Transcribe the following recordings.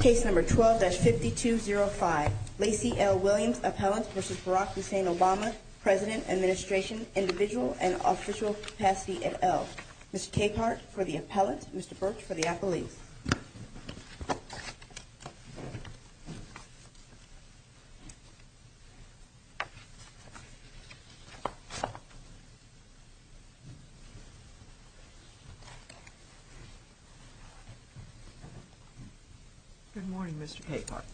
Case No. 12-5205. Lacy L. Williams, Appellant v. Barack Hussein Obama, President, Administration, Individual, and Official Capacity, et al. Mr. Capehart for the Appellant, Mr. Birch for the Appellee. Good morning, Mr. Capehart.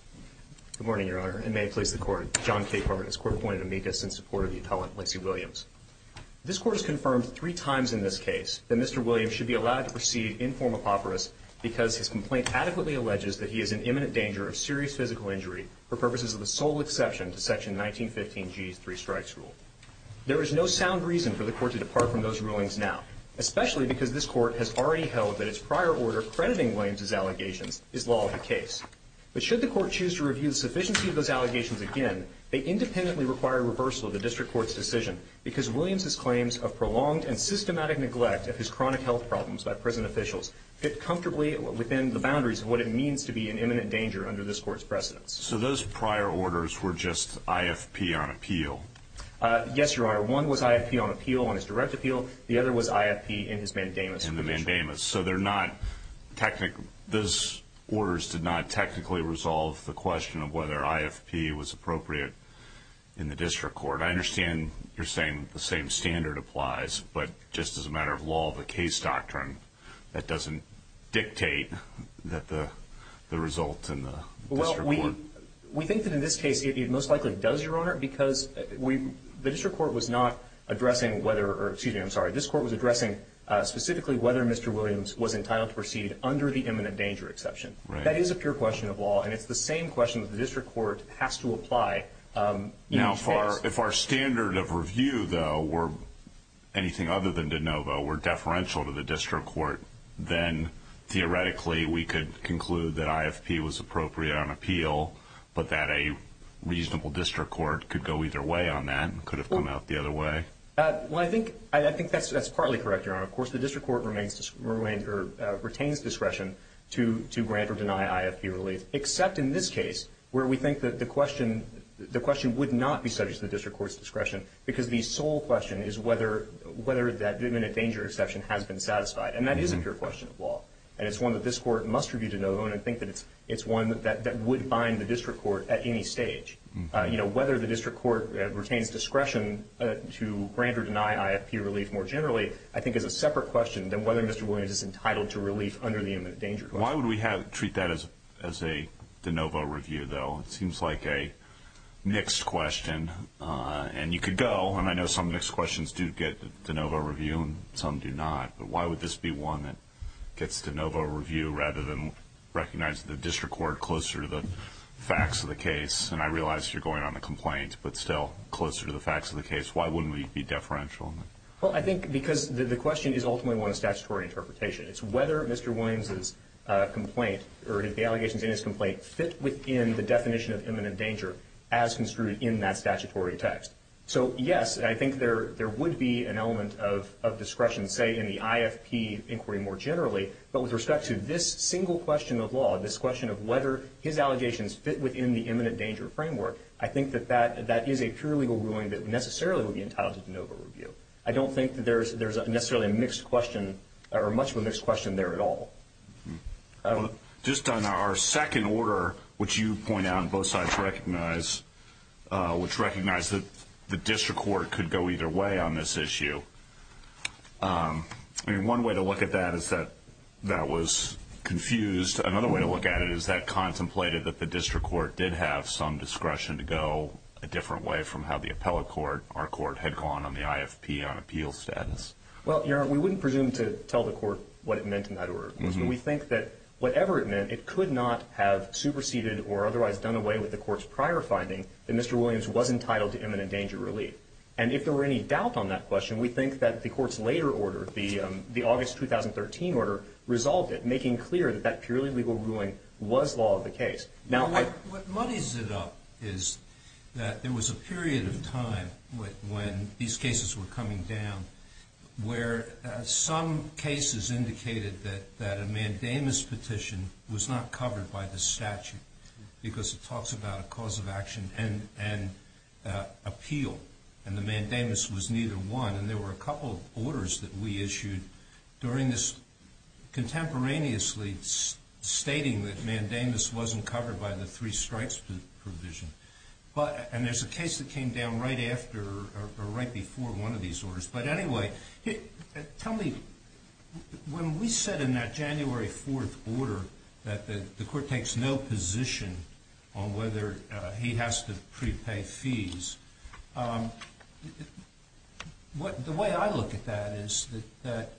Good morning, Your Honor, and may it please the Court. John Capehart, as court appointed amicus in support of the Appellant, Lacy Williams. This Court has confirmed three times in this case that Mr. Williams should be allowed to proceed in form apoporus because his complaint adequately alleges that he is in imminent danger of serious physical injury for purposes of the sole exception to Section 1915G's three strikes rule. There is no sound reason for the Court to depart from those rulings now, especially because this Court has already held that its prior order crediting Williams' allegations is law of the case. But should the Court choose to review the sufficiency of those allegations again, they independently require reversal of the District Court's decision because Williams' claims of prolonged and systematic neglect of his chronic health problems by prison officials fit comfortably within the boundaries of what it means to be in imminent danger under this Court's precedence. So those prior orders were just IFP on appeal? Yes, Your Honor. One was IFP on appeal, on his direct appeal. The other was IFP in his mandamus. In the mandamus. So they're not technical. Those orders did not technically resolve the question of whether IFP was appropriate in the District Court. I understand you're saying the same standard applies, but just as a matter of law of the case doctrine, that doesn't dictate that the result in the District Court. We think that in this case it most likely does, Your Honor, because the District Court was not addressing whether, or excuse me, I'm sorry, this Court was addressing specifically whether Mr. Williams was entitled to proceed under the imminent danger exception. That is a pure question of law, and it's the same question that the District Court has to apply in each case. Now, if our standard of review, though, were anything other than de novo, were deferential to the District Court, then theoretically we could conclude that IFP was appropriate on appeal, but that a reasonable District Court could go either way on that and could have come out the other way. Well, I think that's partly correct, Your Honor. Of course, the District Court retains discretion to grant or deny IFP relief, except in this case where we think that the question would not be subject to the District Court's discretion because the sole question is whether that imminent danger exception has been satisfied. And that is a pure question of law, and it's one that this Court must review de novo, and I think that it's one that would bind the District Court at any stage. You know, whether the District Court retains discretion to grant or deny IFP relief more generally, I think is a separate question than whether Mr. Williams is entitled to relief under the imminent danger clause. Why would we treat that as a de novo review, though? It seems like a mixed question, and you could go, and I know some mixed questions do get de novo review and some do not. But why would this be one that gets de novo review rather than recognize the District Court closer to the facts of the case? And I realize you're going on the complaint, but still closer to the facts of the case. Why wouldn't we be deferential? Well, I think because the question is ultimately one of statutory interpretation. It's whether Mr. Williams' complaint or the allegations in his complaint fit within the definition of imminent danger as construed in that statutory text. So, yes, I think there would be an element of discretion, say, in the IFP inquiry more generally, but with respect to this single question of law, this question of whether his allegations fit within the imminent danger framework, I think that that is a pure legal ruling that necessarily would be entitled to de novo review. I don't think that there's necessarily a mixed question or much of a mixed question there at all. Just on our second order, which you point out and both sides recognize, which recognized that the District Court could go either way on this issue. I mean, one way to look at that is that that was confused. Another way to look at it is that contemplated that the District Court did have some discretion to go a different way from how the appellate court, our court, had gone on the IFP on appeal status. Well, Your Honor, we wouldn't presume to tell the court what it meant in that order. We think that whatever it meant, it could not have superseded or otherwise done away with the court's prior finding that Mr. Williams was entitled to imminent danger relief. And if there were any doubt on that question, we think that the court's later order, the August 2013 order, resolved it, making clear that that purely legal ruling was law of the case. What muddies it up is that there was a period of time when these cases were coming down where some cases indicated that a mandamus petition was not covered by the statute because it talks about a cause of action and appeal, and the mandamus was neither one. And there were a couple of orders that we issued during this contemporaneously stating that mandamus wasn't covered by the three strikes provision. And there's a case that came down right after or right before one of these orders. But anyway, tell me, when we said in that January 4th order that the court takes no position on whether he has to prepay fees, the way I look at that is that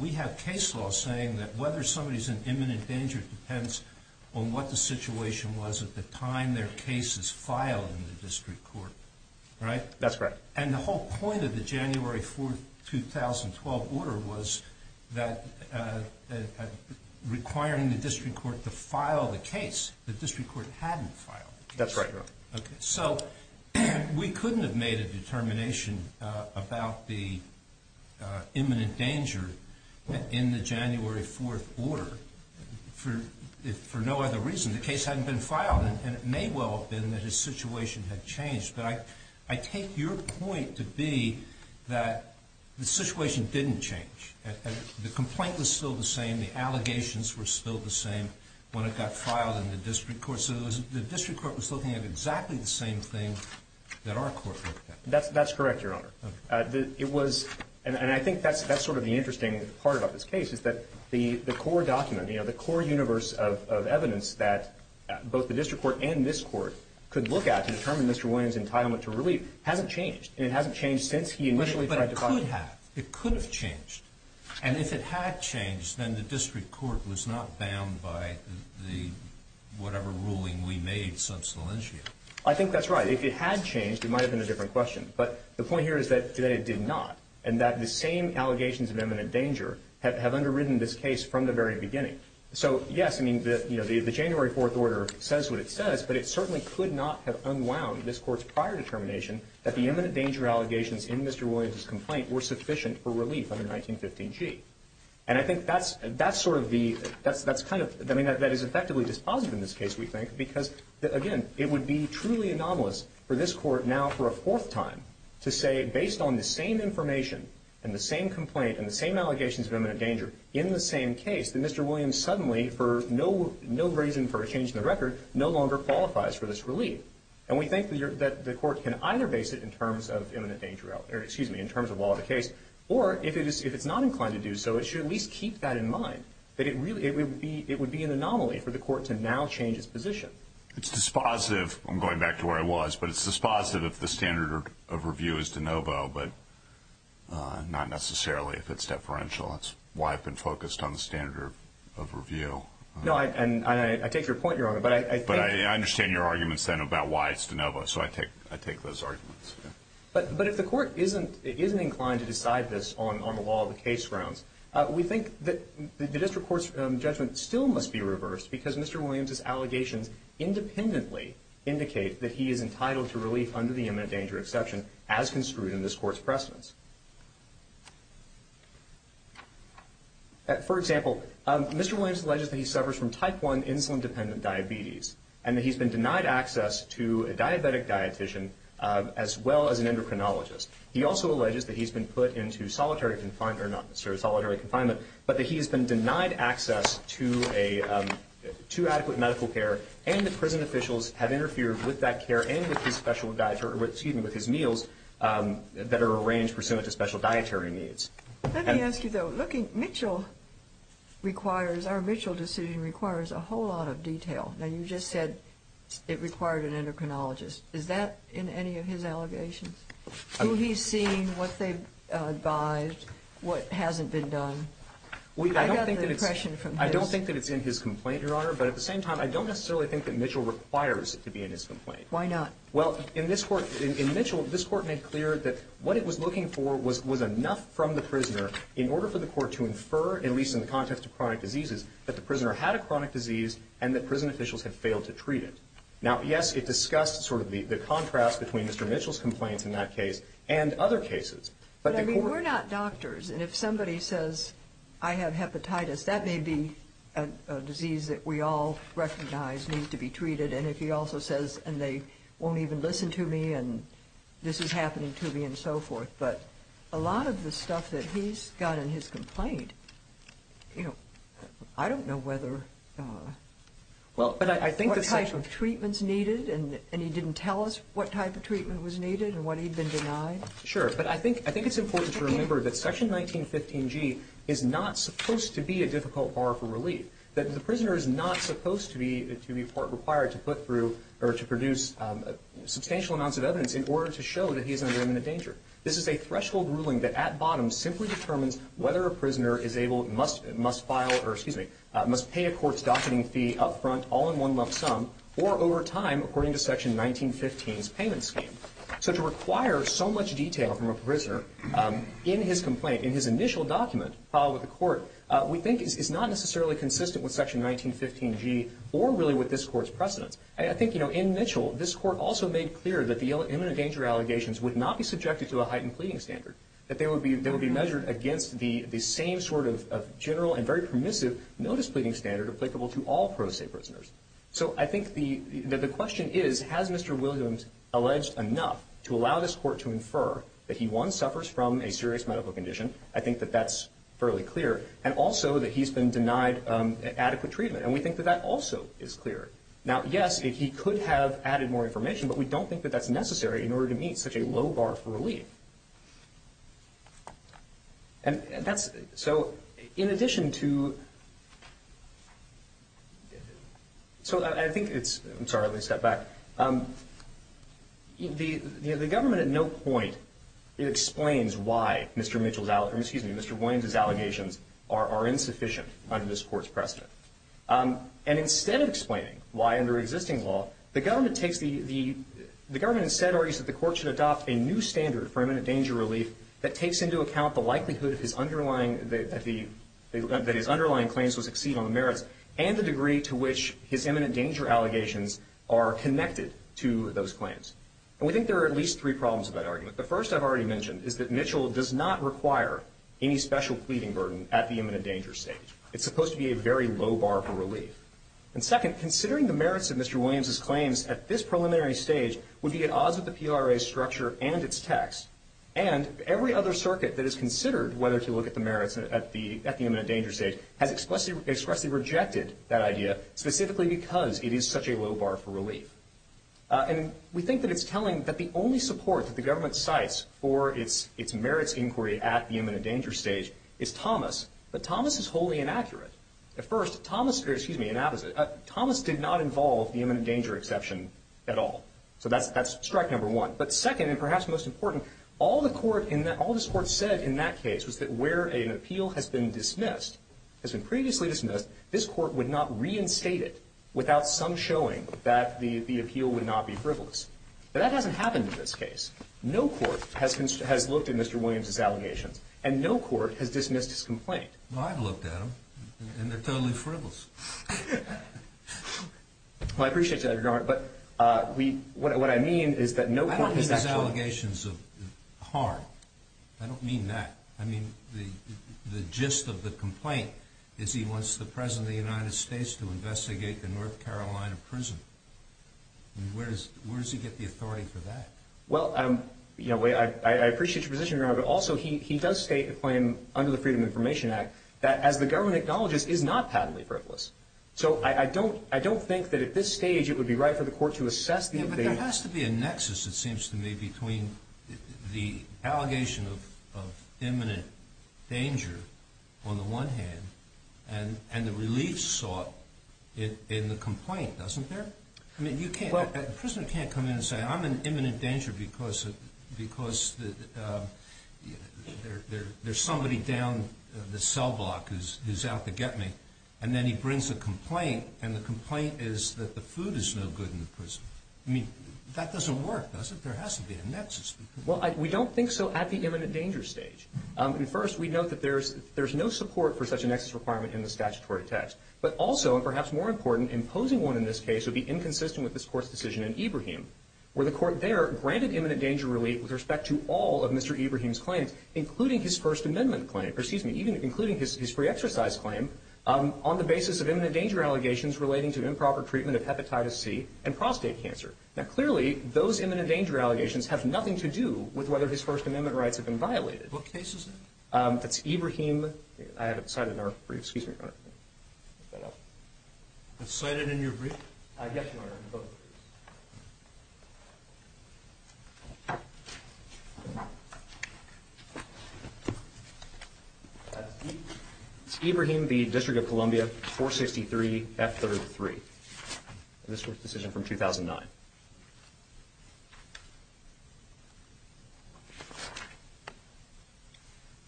we have case law saying that whether somebody's in imminent danger depends on what the situation was at the time their case is filed in the district court, right? That's correct. And the whole point of the January 4th, 2012 order was requiring the district court to file the case. The district court hadn't filed the case. That's right. So we couldn't have made a determination about the imminent danger in the January 4th order for no other reason. The case hadn't been filed, and it may well have been that his situation had changed. But I take your point to be that the situation didn't change. The complaint was still the same. The allegations were still the same when it got filed in the district court. So the district court was looking at exactly the same thing that our court looked at. That's correct, Your Honor. And I think that's sort of the interesting part about this case is that the core document, the core universe of evidence that both the district court and this court could look at to determine Mr. Williams' entitlement to relief hasn't changed, and it hasn't changed since he initially tried to file it. But it could have. It could have changed. And if it had changed, then the district court was not bound by whatever ruling we made since the lynching. I think that's right. If it had changed, it might have been a different question. But the point here is that it did not, and that the same allegations of imminent danger have underwritten this case from the very beginning. So, yes, I mean, the January 4th order says what it says, but it certainly could not have unwound this court's prior determination that the imminent danger allegations in Mr. Williams' complaint were sufficient for relief under 1915G. And I think that's sort of the ‑‑ that is effectively dispositive in this case, we think, because, again, it would be truly anomalous for this court now for a fourth time to say, based on the same information and the same complaint and the same allegations of imminent danger in the same case, that Mr. Williams suddenly, for no reason for a change in the record, no longer qualifies for this relief. And we think that the court can either base it in terms of law of the case or, if it's not inclined to do so, it should at least keep that in mind, that it would be an anomaly for the court to now change its position. It's dispositive. I'm going back to where I was, but it's dispositive if the standard of review is de novo, but not necessarily if it's deferential. That's why I've been focused on the standard of review. No, and I take your point, Your Honor. But I understand your arguments then about why it's de novo, so I take those arguments. But if the court isn't inclined to decide this on the law of the case grounds, we think that the district court's judgment still must be reversed because Mr. Williams's allegations independently indicate that he is entitled to relief under the imminent danger exception as construed in this court's precedence. For example, Mr. Williams alleges that he suffers from type 1 insulin-dependent diabetes and that he's been denied access to a diabetic dietician as well as an endocrinologist. He also alleges that he's been put into solitary confinement, but that he's been denied access to adequate medical care and that prison officials have interfered with that care and with his meals that are arranged pursuant to special dietary needs. Let me ask you, though, looking, Mitchell requires, our Mitchell decision requires a whole lot of detail. Now, you just said it required an endocrinologist. Is that in any of his allegations, who he's seen, what they've advised, what hasn't been done? I got the impression from his. I don't think that it's in his complaint, Your Honor, but at the same time I don't necessarily think that Mitchell requires it to be in his complaint. Why not? Well, in this court, in Mitchell, this court made clear that what it was looking for was enough from the prisoner in order for the court to infer, at least in the context of chronic diseases, that the prisoner had a chronic disease and that prison officials had failed to treat it. Now, yes, it discussed sort of the contrast between Mr. Mitchell's complaints in that case and other cases. But I mean, we're not doctors, and if somebody says I have hepatitis, and if he also says, and they won't even listen to me, and this is happening to me, and so forth. But a lot of the stuff that he's got in his complaint, you know, I don't know whether, what type of treatment's needed, and he didn't tell us what type of treatment was needed and what he'd been denied. Sure. But I think it's important to remember that Section 1915G is not supposed to be a difficult bar for relief, that the prisoner is not supposed to be required to put through or to produce substantial amounts of evidence in order to show that he is under imminent danger. This is a threshold ruling that, at bottom, simply determines whether a prisoner must pay a court's docketing fee up front, all in one lump sum, or over time, according to Section 1915's payment scheme. So to require so much detail from a prisoner in his complaint, in his initial document filed with the court, we think is not necessarily consistent with Section 1915G, or really with this Court's precedents. I think, you know, in Mitchell, this Court also made clear that the imminent danger allegations would not be subjected to a heightened pleading standard, that they would be measured against the same sort of general and very permissive notice pleading standard applicable to all pro se prisoners. So I think that the question is, has Mr. Williams alleged enough to allow this Court to infer that he, one, suffers from a serious medical condition? I think that that's fairly clear. And also that he's been denied adequate treatment. And we think that that also is clear. Now, yes, he could have added more information, but we don't think that that's necessary in order to meet such a low bar for relief. And that's, so in addition to, so I think it's, I'm sorry, let me step back. The government at no point explains why Mr. Mitchell's, or excuse me, Mr. Williams' allegations are insufficient under this Court's precedent. And instead of explaining why under existing law, the government takes the, the government instead argues that the Court should adopt a new standard for imminent danger relief that takes into account the likelihood of his underlying, that his underlying claims will succeed on the merits and the degree to which his imminent danger allegations are connected to those claims. And we think there are at least three problems with that argument. The first I've already mentioned is that Mitchell does not require any special pleading burden at the imminent danger stage. It's supposed to be a very low bar for relief. And second, considering the merits of Mr. Williams' claims at this preliminary stage would be at odds with the PRA's structure and its text, and every other circuit that has considered whether to look at the merits at the, at the imminent danger stage has expressly, expressly rejected that idea, specifically because it is such a low bar for relief. And we think that it's telling that the only support that the government cites for its, its merits inquiry at the imminent danger stage is Thomas. But Thomas is wholly inaccurate. At first, Thomas, or excuse me, Thomas did not involve the imminent danger exception at all. So that's, that's strike number one. But second, and perhaps most important, all the Court in that, all this Court said in that case was that where an appeal has been dismissed, has been previously dismissed, this Court would not reinstate it without some showing that the, the appeal would not be frivolous. But that hasn't happened in this case. No Court has, has looked at Mr. Williams' allegations, and no Court has dismissed his complaint. Well, I've looked at them, and they're totally frivolous. Well, I appreciate that, Your Honor, but we, what I mean is that no Court has actually dismissed the allegations of harm. I don't mean that. I mean the, the gist of the complaint is he wants the President of the United States to investigate the North Carolina prison. I mean, where does, where does he get the authority for that? Well, I'm, you know, I appreciate your position, Your Honor, but also he, he does state a claim under the Freedom of Information Act that as the government acknowledges, is not patently frivolous. So I, I don't, I don't think that at this stage it would be right for the Court to assess the in nexus, it seems to me, between the allegation of, of imminent danger on the one hand, and, and the relief sought in, in the complaint, doesn't there? I mean, you can't, a prisoner can't come in and say, I'm in imminent danger because, because there, there, there's somebody down the cell block who's, who's out to get me. And then he brings a complaint, and the complaint is that the food is no good in the prison. I mean, that doesn't work, does it? There has to be a nexus. Well, I, we don't think so at the imminent danger stage. And first, we note that there's, there's no support for such a nexus requirement in the statutory text. But also, and perhaps more important, imposing one in this case would be inconsistent with this Court's decision in Ibrahim, where the Court there granted imminent danger relief with respect to all of Mr. Ibrahim's claims, including his First Amendment claim, or excuse me, even including his, his pre-exercise claim, on the basis of imminent treatment of hepatitis C and prostate cancer. Now, clearly, those imminent danger allegations have nothing to do with whether his First Amendment rights have been violated. What case is that? That's Ibrahim, I haven't cited in our brief, excuse me, Your Honor. Is that up? I've cited in your brief? Yes, Your Honor, in both briefs. It's Ibrahim, the District of Columbia, 463 F-33. This Court's decision from 2009.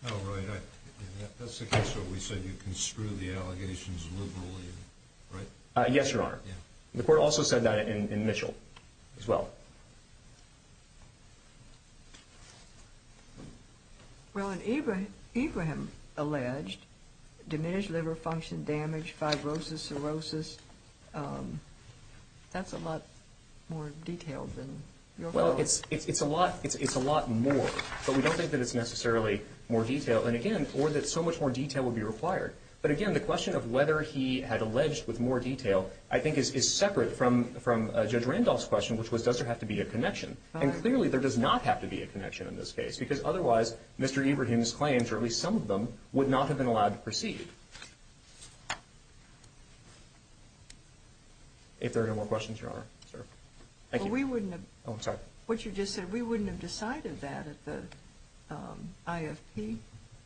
Oh, right. That's the case where we said you can screw the allegations liberally, right? Yes, Your Honor. The Court also said that in Mitchell as well. Well, in Ibrahim alleged, diminished liver function, damage, fibrosis, cirrhosis, that's a lot more detailed than Your Honor. Well, it's, it's a lot, it's a lot more, but we don't think that it's necessarily more detailed, and again, or that so much more detail would be required. But again, the question of whether he had alleged with more detail, I think, is separate from Judge Randolph's question, which was, does there have to be a connection? And clearly, there does not have to be a connection in this case, because otherwise, Mr. Ibrahim's claims, or at least some of them, would not have been allowed to proceed. If there are no more questions, Your Honor, sir. Thank you. Well, we wouldn't have. Oh, I'm sorry. What you just said, we wouldn't have decided that at the IFP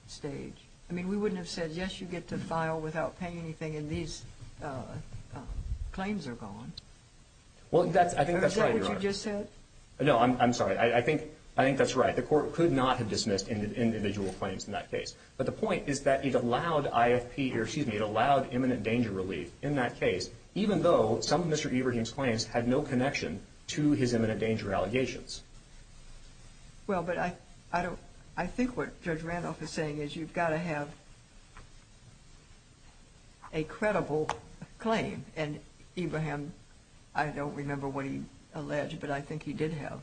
stage. I mean, we wouldn't have said, yes, you get to file without paying anything, and these claims are gone. Well, that's, I think that's right, Your Honor. Or is that what you just said? No, I'm, I'm sorry. I, I think, I think that's right. The court could not have dismissed individual claims in that case. But the point is that it allowed IFP, or excuse me, it allowed imminent danger relief in that case, even though some of Mr. Ibrahim's claims had no connection to his imminent danger allegations. Well, but I, I don't, I think what Judge Randolph is saying is you've got to have a credible claim. And Ibrahim, I don't remember what he alleged, but I think he did have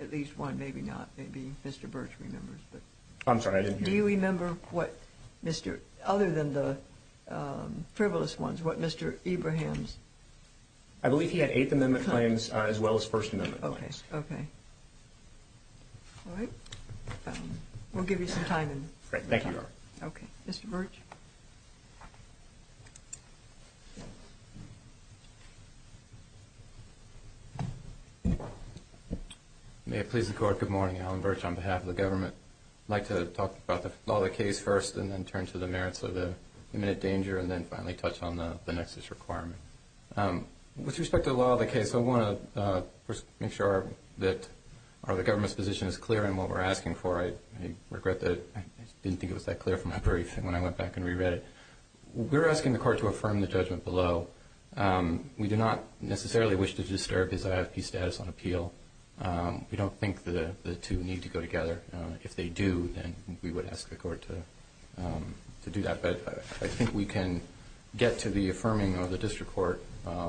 at least one, maybe not, maybe Mr. Birch remembers, but. I'm sorry, I didn't hear. Do you remember what Mr., other than the frivolous ones, what Mr. Ibrahim's. I believe he had Eighth Amendment claims as well as First Amendment claims. Okay. All right. We'll give you some time. Great, thank you, Your Honor. Okay. Mr. Birch. May it please the court, good morning. Alan Birch on behalf of the government. I'd like to talk about the law of the case first and then turn to the merits of the imminent danger and then finally touch on the nexus requirement. With respect to the law of the case, I want to first make sure that the government's position is clear in what we're asking for. I regret that I didn't think it was that clear from my brief when I went back and reread it. We're asking the court to affirm the judgment below. We do not necessarily wish to disturb his IFP status on appeal. We don't think the two need to go together. If they do, then we would ask the court to do that. But I think we can get to the affirming of the district court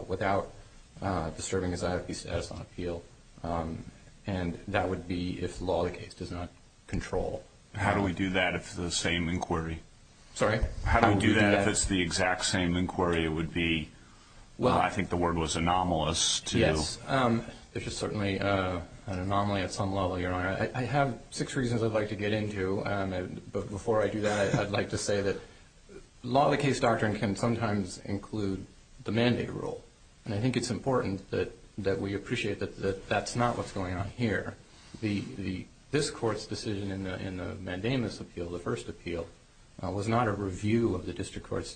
without disturbing his IFP status on appeal. And that would be if the law of the case does not control. How do we do that if it's the same inquiry? Sorry? How do we do that if it's the exact same inquiry? It would be, I think the word was anomalous. Yes. It's just certainly an anomaly at some level, Your Honor. I have six reasons I'd like to get into. Before I do that, I'd like to say that law of the case doctrine can sometimes include the mandate rule. And I think it's important that we appreciate that that's not what's going on here. This Court's decision in the mandamus appeal, the first appeal, was not a review of the district court's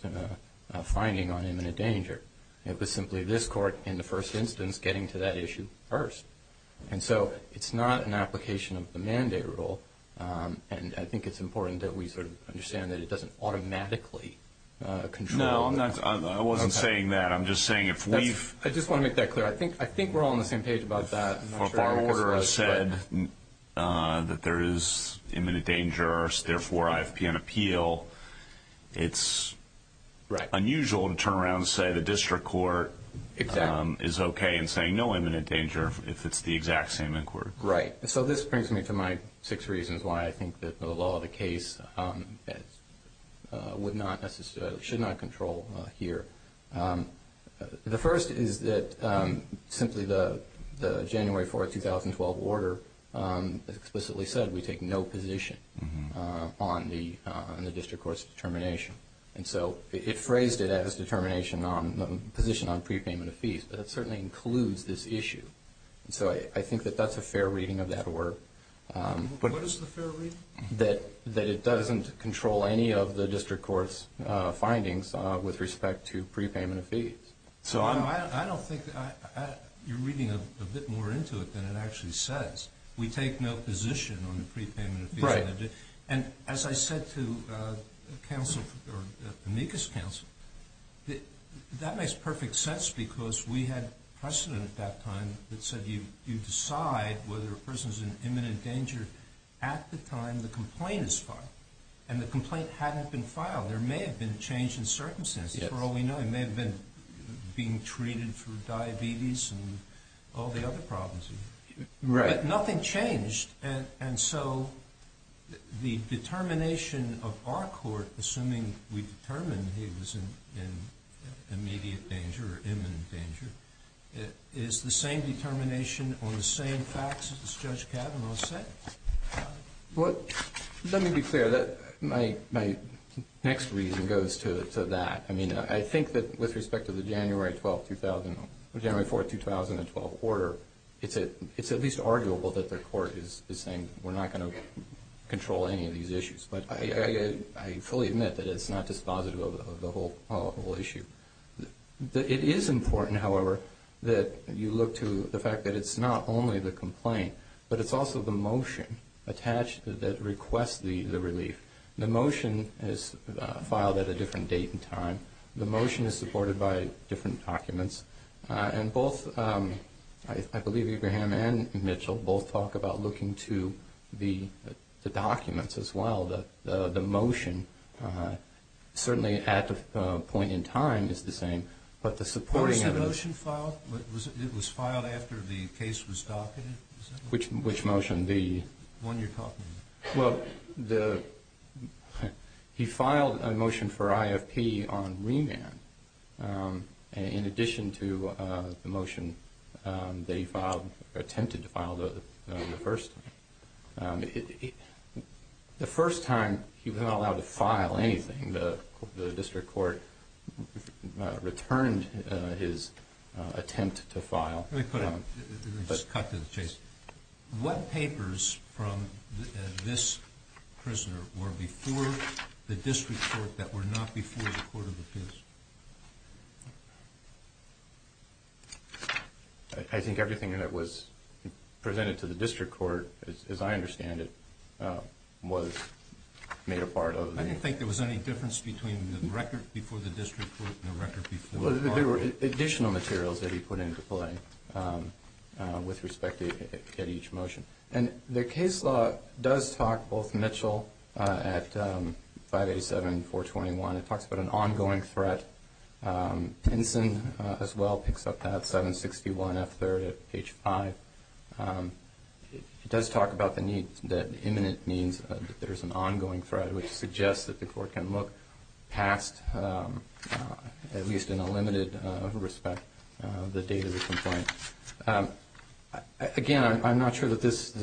finding on imminent danger. It was simply this court in the first instance getting to that issue first. And so it's not an application of the mandate rule. And I think it's important that we sort of understand that it doesn't automatically control. No, I wasn't saying that. I'm just saying if we've – I just want to make that clear. I think we're all on the same page about that. If our order said that there is imminent danger, therefore IFP on appeal, it's unusual to turn around and say the district court is okay and say no imminent danger if it's the exact same inquiry. Right. So this brings me to my six reasons why I think that the law of the case would not necessarily – should not control here. The first is that simply the January 4, 2012 order explicitly said we take no position on the district court's determination. And so it phrased it as determination on – position on prepayment of fees. That certainly includes this issue. So I think that that's a fair reading of that word. What is the fair reading? That it doesn't control any of the district court's findings with respect to prepayment of fees. I don't think – you're reading a bit more into it than it actually says. We take no position on the prepayment of fees. Right. And as I said to counsel or amicus counsel, that makes perfect sense because we had precedent at that time that said you decide whether a person is in imminent danger at the time the complaint is filed. And the complaint hadn't been filed. There may have been a change in circumstances for all we know. He may have been being treated for diabetes and all the other problems. Right. But nothing changed. And so the determination of our court, assuming we determined he was in immediate danger or imminent danger, is the same determination on the same facts as Judge Kavanaugh said? Well, let me be clear. My next reason goes to that. I mean, I think that with respect to the January 4, 2012 order, it's at least arguable that the court is saying we're not going to control any of these issues. But I fully admit that it's not dispositive of the whole issue. It is important, however, that you look to the fact that it's not only the complaint, but it's also the motion attached that requests the relief. The motion is filed at a different date and time. The motion is supported by different documents. And both, I believe, Abraham and Mitchell, both talk about looking to the documents as well. The motion, certainly at the point in time, is the same. What was the motion filed? It was filed after the case was documented? Which motion? The one you're talking about. Well, he filed a motion for IFP on remand in addition to the motion that he attempted to file the first time. The first time, he was not allowed to file anything. The district court returned his attempt to file. Let me put it. Let's cut to the chase. What papers from this prisoner were before the district court that were not before the court of appeals? I think everything that was presented to the district court, as I understand it, was made a part of it. I didn't think there was any difference between the record before the district court and the record before the court. There were additional materials that he put into play with respect to each motion. The case law does talk both Mitchell at 587-421. It talks about an ongoing threat. Pinson, as well, picks up that 761F3 at page 5. It does talk about the imminent means that there's an ongoing threat, which suggests that the court can look past, at least in a limited respect, the date of the complaint. Again, I'm not sure that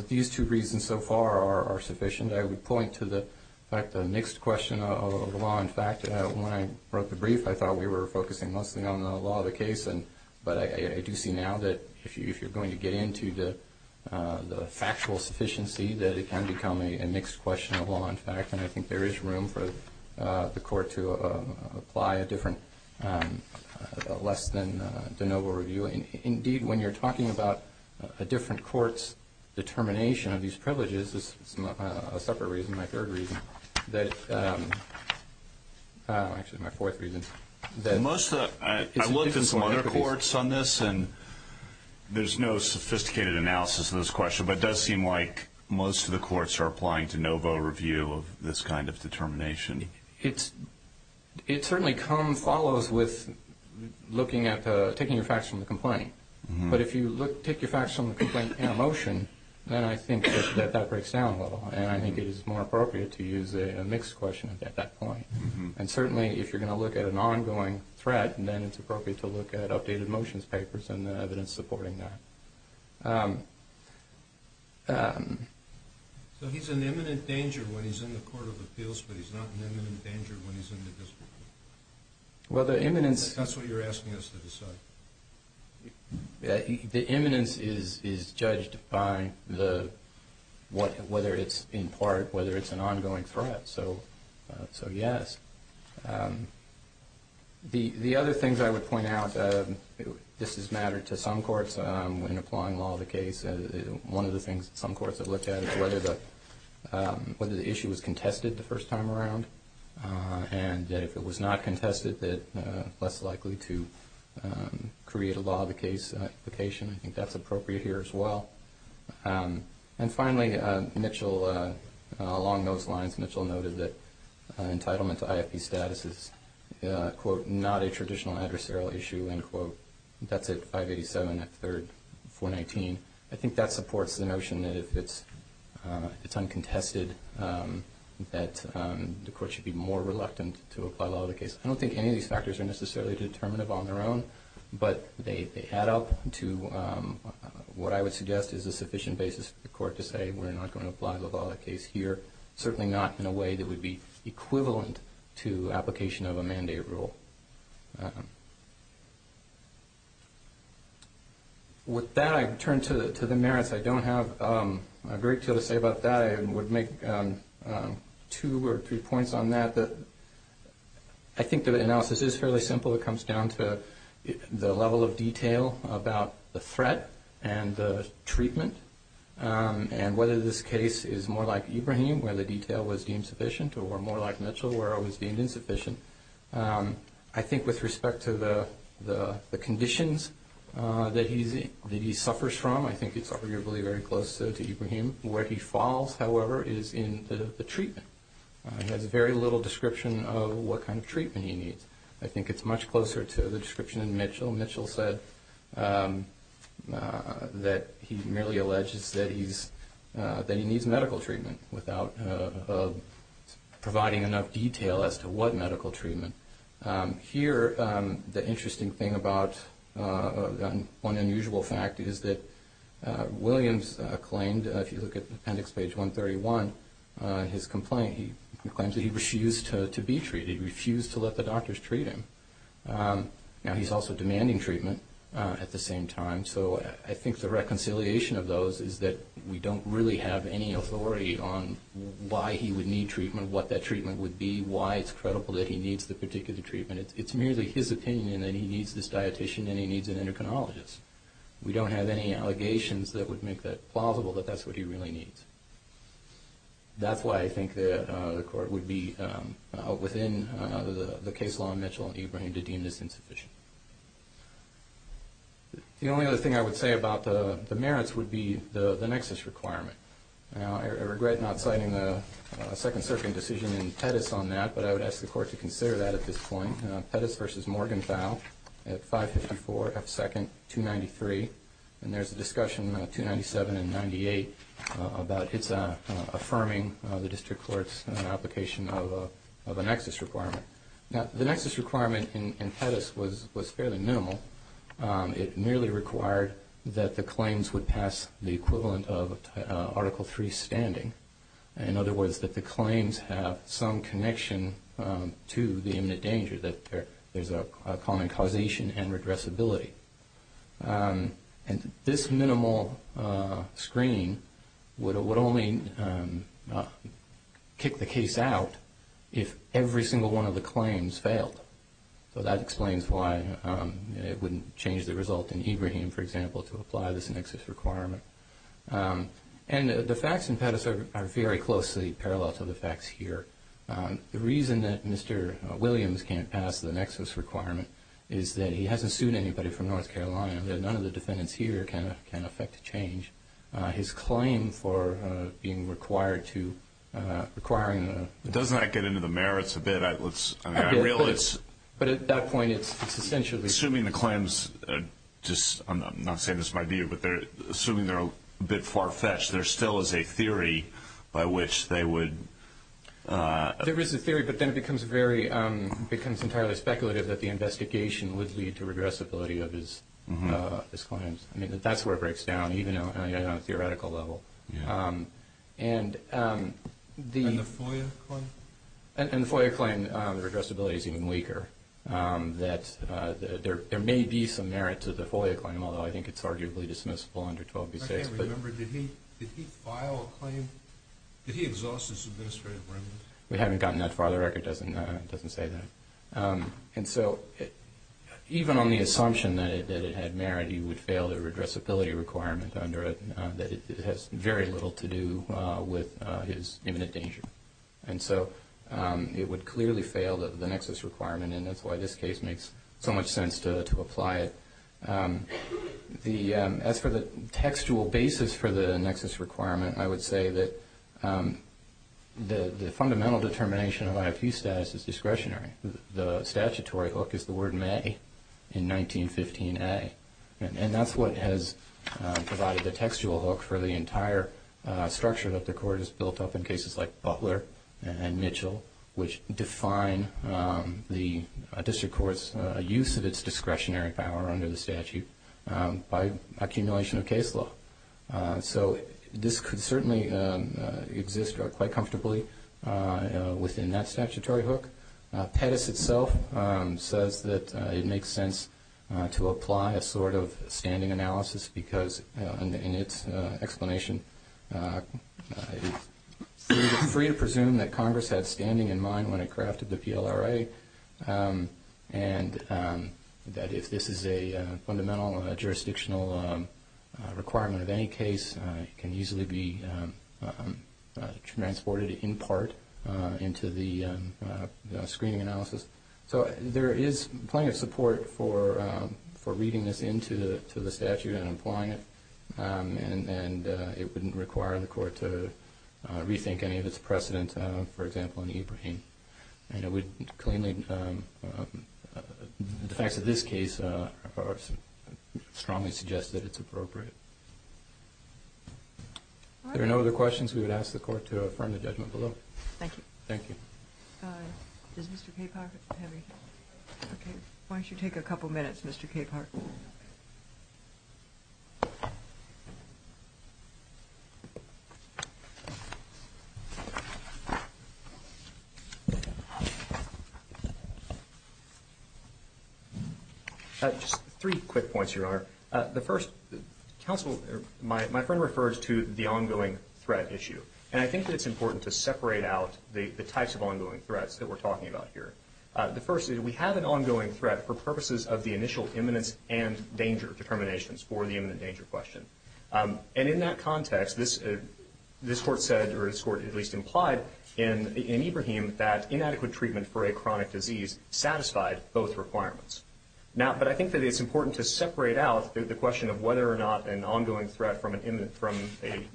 these two reasons so far are sufficient. I would point to the fact that a mixed question of law and fact. When I wrote the brief, I thought we were focusing mostly on the law of the case, but I do see now that if you're going to get into the factual sufficiency, that it can become a mixed question of law and fact, and I think there is room for the court to apply a different, less than de novo review. Indeed, when you're talking about a different court's determination of these privileges, this is a separate reason, my third reason. Actually, my fourth reason. I looked at some other courts on this, and there's no sophisticated analysis of this question, but it does seem like most of the courts are applying to no vote review of this kind of determination. It certainly follows with taking your facts from the complaint, but if you take your facts from the complaint in a motion, then I think that that breaks down a little, and I think it is more appropriate to use a mixed question at that point. Certainly, if you're going to look at an ongoing threat, then it's appropriate to look at updated motions papers and evidence supporting that. So he's in imminent danger when he's in the Court of Appeals, but he's not in imminent danger when he's in the district court? That's what you're asking us to decide. The imminence is judged by whether it's in part, whether it's an ongoing threat. So, yes. The other things I would point out, this has mattered to some courts when applying law of the case. One of the things some courts have looked at is whether the issue was contested the first time around, and if it was not contested, less likely to create a law of the case application. I think that's appropriate here as well. And finally, Mitchell, along those lines, Mitchell noted that entitlement to IFP status is, quote, is not a traditional adversarial issue, end quote. That's at 587 at 3rd 419. I think that supports the notion that if it's uncontested, that the court should be more reluctant to apply law of the case. I don't think any of these factors are necessarily determinative on their own, but they add up to what I would suggest is a sufficient basis for the court to say, we're not going to apply law of the case here, but certainly not in a way that would be equivalent to application of a mandate rule. With that, I turn to the merits. I don't have a great deal to say about that. I would make two or three points on that. I think the analysis is fairly simple. It comes down to the level of detail about the threat and the treatment, and whether this case is more like Ibrahim, where the detail was deemed sufficient, or more like Mitchell, where it was deemed insufficient. I think with respect to the conditions that he suffers from, I think it's arguably very close to Ibrahim. Where he falls, however, is in the treatment. He has very little description of what kind of treatment he needs. I think it's much closer to the description in Mitchell. Mitchell said that he merely alleges that he needs medical treatment without providing enough detail as to what medical treatment. Here, the interesting thing about one unusual fact is that Williams claimed, if you look at appendix page 131, his complaint, he claims that he refused to be treated. He refused to let the doctors treat him. Now, he's also demanding treatment at the same time, so I think the reconciliation of those is that we don't really have any authority on why he would need treatment, what that treatment would be, why it's credible that he needs the particular treatment. It's merely his opinion that he needs this dietician and he needs an endocrinologist. We don't have any allegations that would make that plausible, that that's what he really needs. That's why I think the court would be within the case law in Mitchell and Ebring to deem this insufficient. The only other thing I would say about the merits would be the nexus requirement. Now, I regret not citing the Second Circuit decision in Pettis on that, but I would ask the court to consider that at this point. Pettis v. Morgenthau at 554 F. 2nd, 293, and there's a discussion, 297 and 98, about its affirming the district court's application of a nexus requirement. Now, the nexus requirement in Pettis was fairly minimal. It merely required that the claims would pass the equivalent of Article III standing. In other words, that the claims have some connection to the imminent danger, that there's a common causation and redressability. And this minimal screening would only kick the case out if every single one of the claims failed. So that explains why it wouldn't change the result in Ebring, for example, to apply this nexus requirement. And the facts in Pettis are very closely parallel to the facts here. The reason that Mr. Williams can't pass the nexus requirement is that he hasn't sued anybody from North Carolina, and that none of the defendants here can affect the change. His claim for being required to, requiring the- Doesn't that get into the merits a bit? I mean, I realize- But at that point, it's essentially- Assuming the claims are just, I'm not saying this is my view, but assuming they're a bit far-fetched, there still is a theory by which they would- There is a theory, but then it becomes entirely speculative that the investigation would lead to regressibility of his claims. I mean, that's where it breaks down, even on a theoretical level. And the- And the FOIA claim? And the FOIA claim, the regressibility is even weaker, that there may be some merit to the FOIA claim, although I think it's arguably dismissible under 12b6, but- I can't remember, did he file a claim? Did he exhaust his administrative remit? We haven't gotten that far. The record doesn't say that. And so, even on the assumption that it had merit, he would fail the regressibility requirement under it, that it has very little to do with his imminent danger. And so, it would clearly fail the nexus requirement, and that's why this case makes so much sense to apply it. As for the textual basis for the nexus requirement, I would say that the fundamental determination of IFU status is discretionary. The statutory hook is the word may in 1915a, and that's what has provided the textual hook for the entire structure that the Court has built up in cases like Butler and Mitchell, which define the district court's use of its discretionary power under the statute by accumulation of case law. So, this could certainly exist quite comfortably within that statutory hook. Pettis itself says that it makes sense to apply a sort of standing analysis because in its explanation it's free to presume that Congress had standing in mind when it crafted the PLRA, and that if this is a fundamental jurisdictional requirement of any case, it can easily be transported in part into the screening analysis. So, there is plenty of support for reading this into the statute and applying it, and it wouldn't require the Court to rethink any of its precedent, for example, in Ibrahim. The facts of this case strongly suggest that it's appropriate. If there are no other questions, we would ask the Court to affirm the judgment below. Thank you. Thank you. Does Mr. Capehart have anything? Why don't you take a couple minutes, Mr. Capehart? Just three quick points, Your Honor. The first, counsel, my friend refers to the ongoing threat issue, and I think that it's important to separate out the types of ongoing threats that we're talking about here. The first is we have an ongoing threat for purposes of the initial imminence and danger determinations for the imminent danger question. And in that context, this Court said, or this Court at least implied, in Ibrahim that inadequate treatment for a chronic disease satisfied both requirements. But I think that it's important to separate out the question of whether or not an ongoing threat from an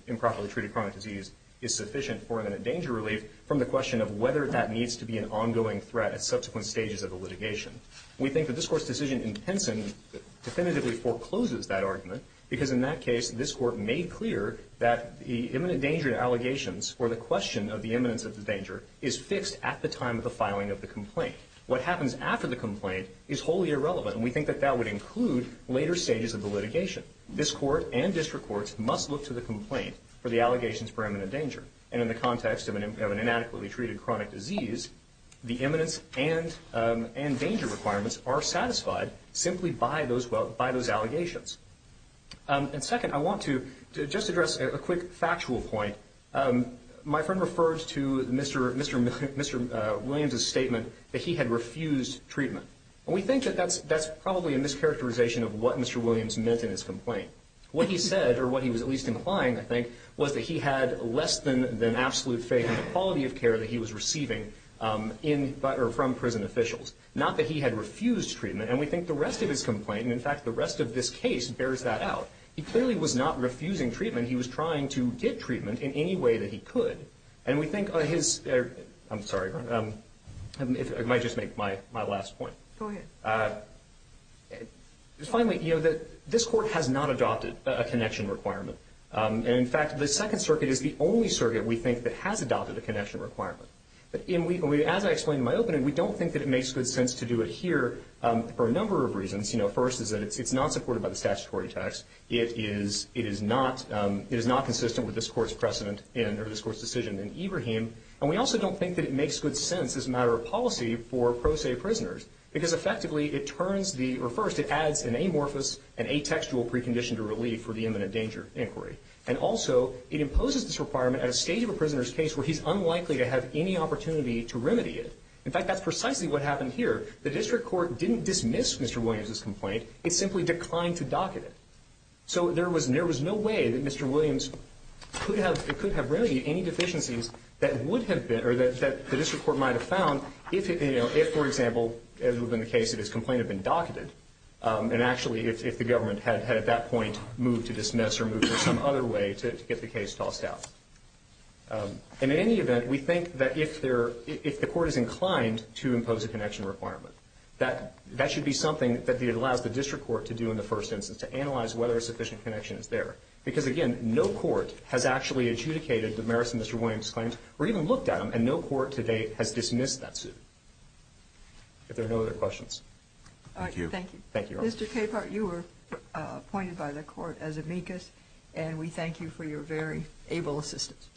improperly treated chronic disease is sufficient for imminent danger relief from the question of whether that needs to be an ongoing threat at subsequent stages of the litigation. We think that this Court's decision in Penson definitively forecloses that argument, because in that case, this Court made clear that the imminent danger allegations or the question of the imminence of the danger is fixed at the time of the filing of the complaint. What happens after the complaint is wholly irrelevant, and we think that that would include later stages of the litigation. This Court and district courts must look to the complaint for the allegations for imminent danger. And in the context of an inadequately treated chronic disease, the imminence and danger requirements are satisfied simply by those allegations. And second, I want to just address a quick factual point. My friend refers to Mr. Williams's statement that he had refused treatment. And we think that that's probably a mischaracterization of what Mr. Williams meant in his complaint. What he said, or what he was at least implying, I think, was that he had less than absolute faith in the quality of care that he was receiving from prison officials, not that he had refused treatment. And we think the rest of his complaint, and, in fact, the rest of this case, bears that out. He clearly was not refusing treatment. He was trying to get treatment in any way that he could. And we think his – I'm sorry, I might just make my last point. Go ahead. Finally, you know, this Court has not adopted a connection requirement. And, in fact, the Second Circuit is the only circuit, we think, that has adopted a connection requirement. As I explained in my opening, we don't think that it makes good sense to do it here for a number of reasons. You know, first is that it's not supported by the statutory text. It is not consistent with this Court's precedent in – or this Court's decision in Ibrahim. And we also don't think that it makes good sense as a matter of policy for pro se prisoners because, effectively, it turns the – or, first, it adds an amorphous and atextual precondition to relief for the imminent danger inquiry. And, also, it imposes this requirement at a stage of a prisoner's case where he's unlikely to have any opportunity to remedy it. In fact, that's precisely what happened here. The district court didn't dismiss Mr. Williams's complaint. It simply declined to docket it. So there was no way that Mr. Williams could have remedied any deficiencies that would have been – or that the district court might have found if, you know, if, for example, as would have been the case if his complaint had been docketed, and actually if the government had, at that point, moved to dismiss or move to some other way to get the case tossed out. And, in any event, we think that if there – if the Court is inclined to impose a connection requirement, that should be something that it allows the district court to do in the first instance, to analyze whether a sufficient connection is there. Because, again, no court has actually adjudicated the merits of Mr. Williams's claims or even looked at them, and no court to date has dismissed that suit. If there are no other questions. Thank you. Thank you. Mr. Capehart, you were appointed by the Court as amicus, and we thank you for your very able assistance.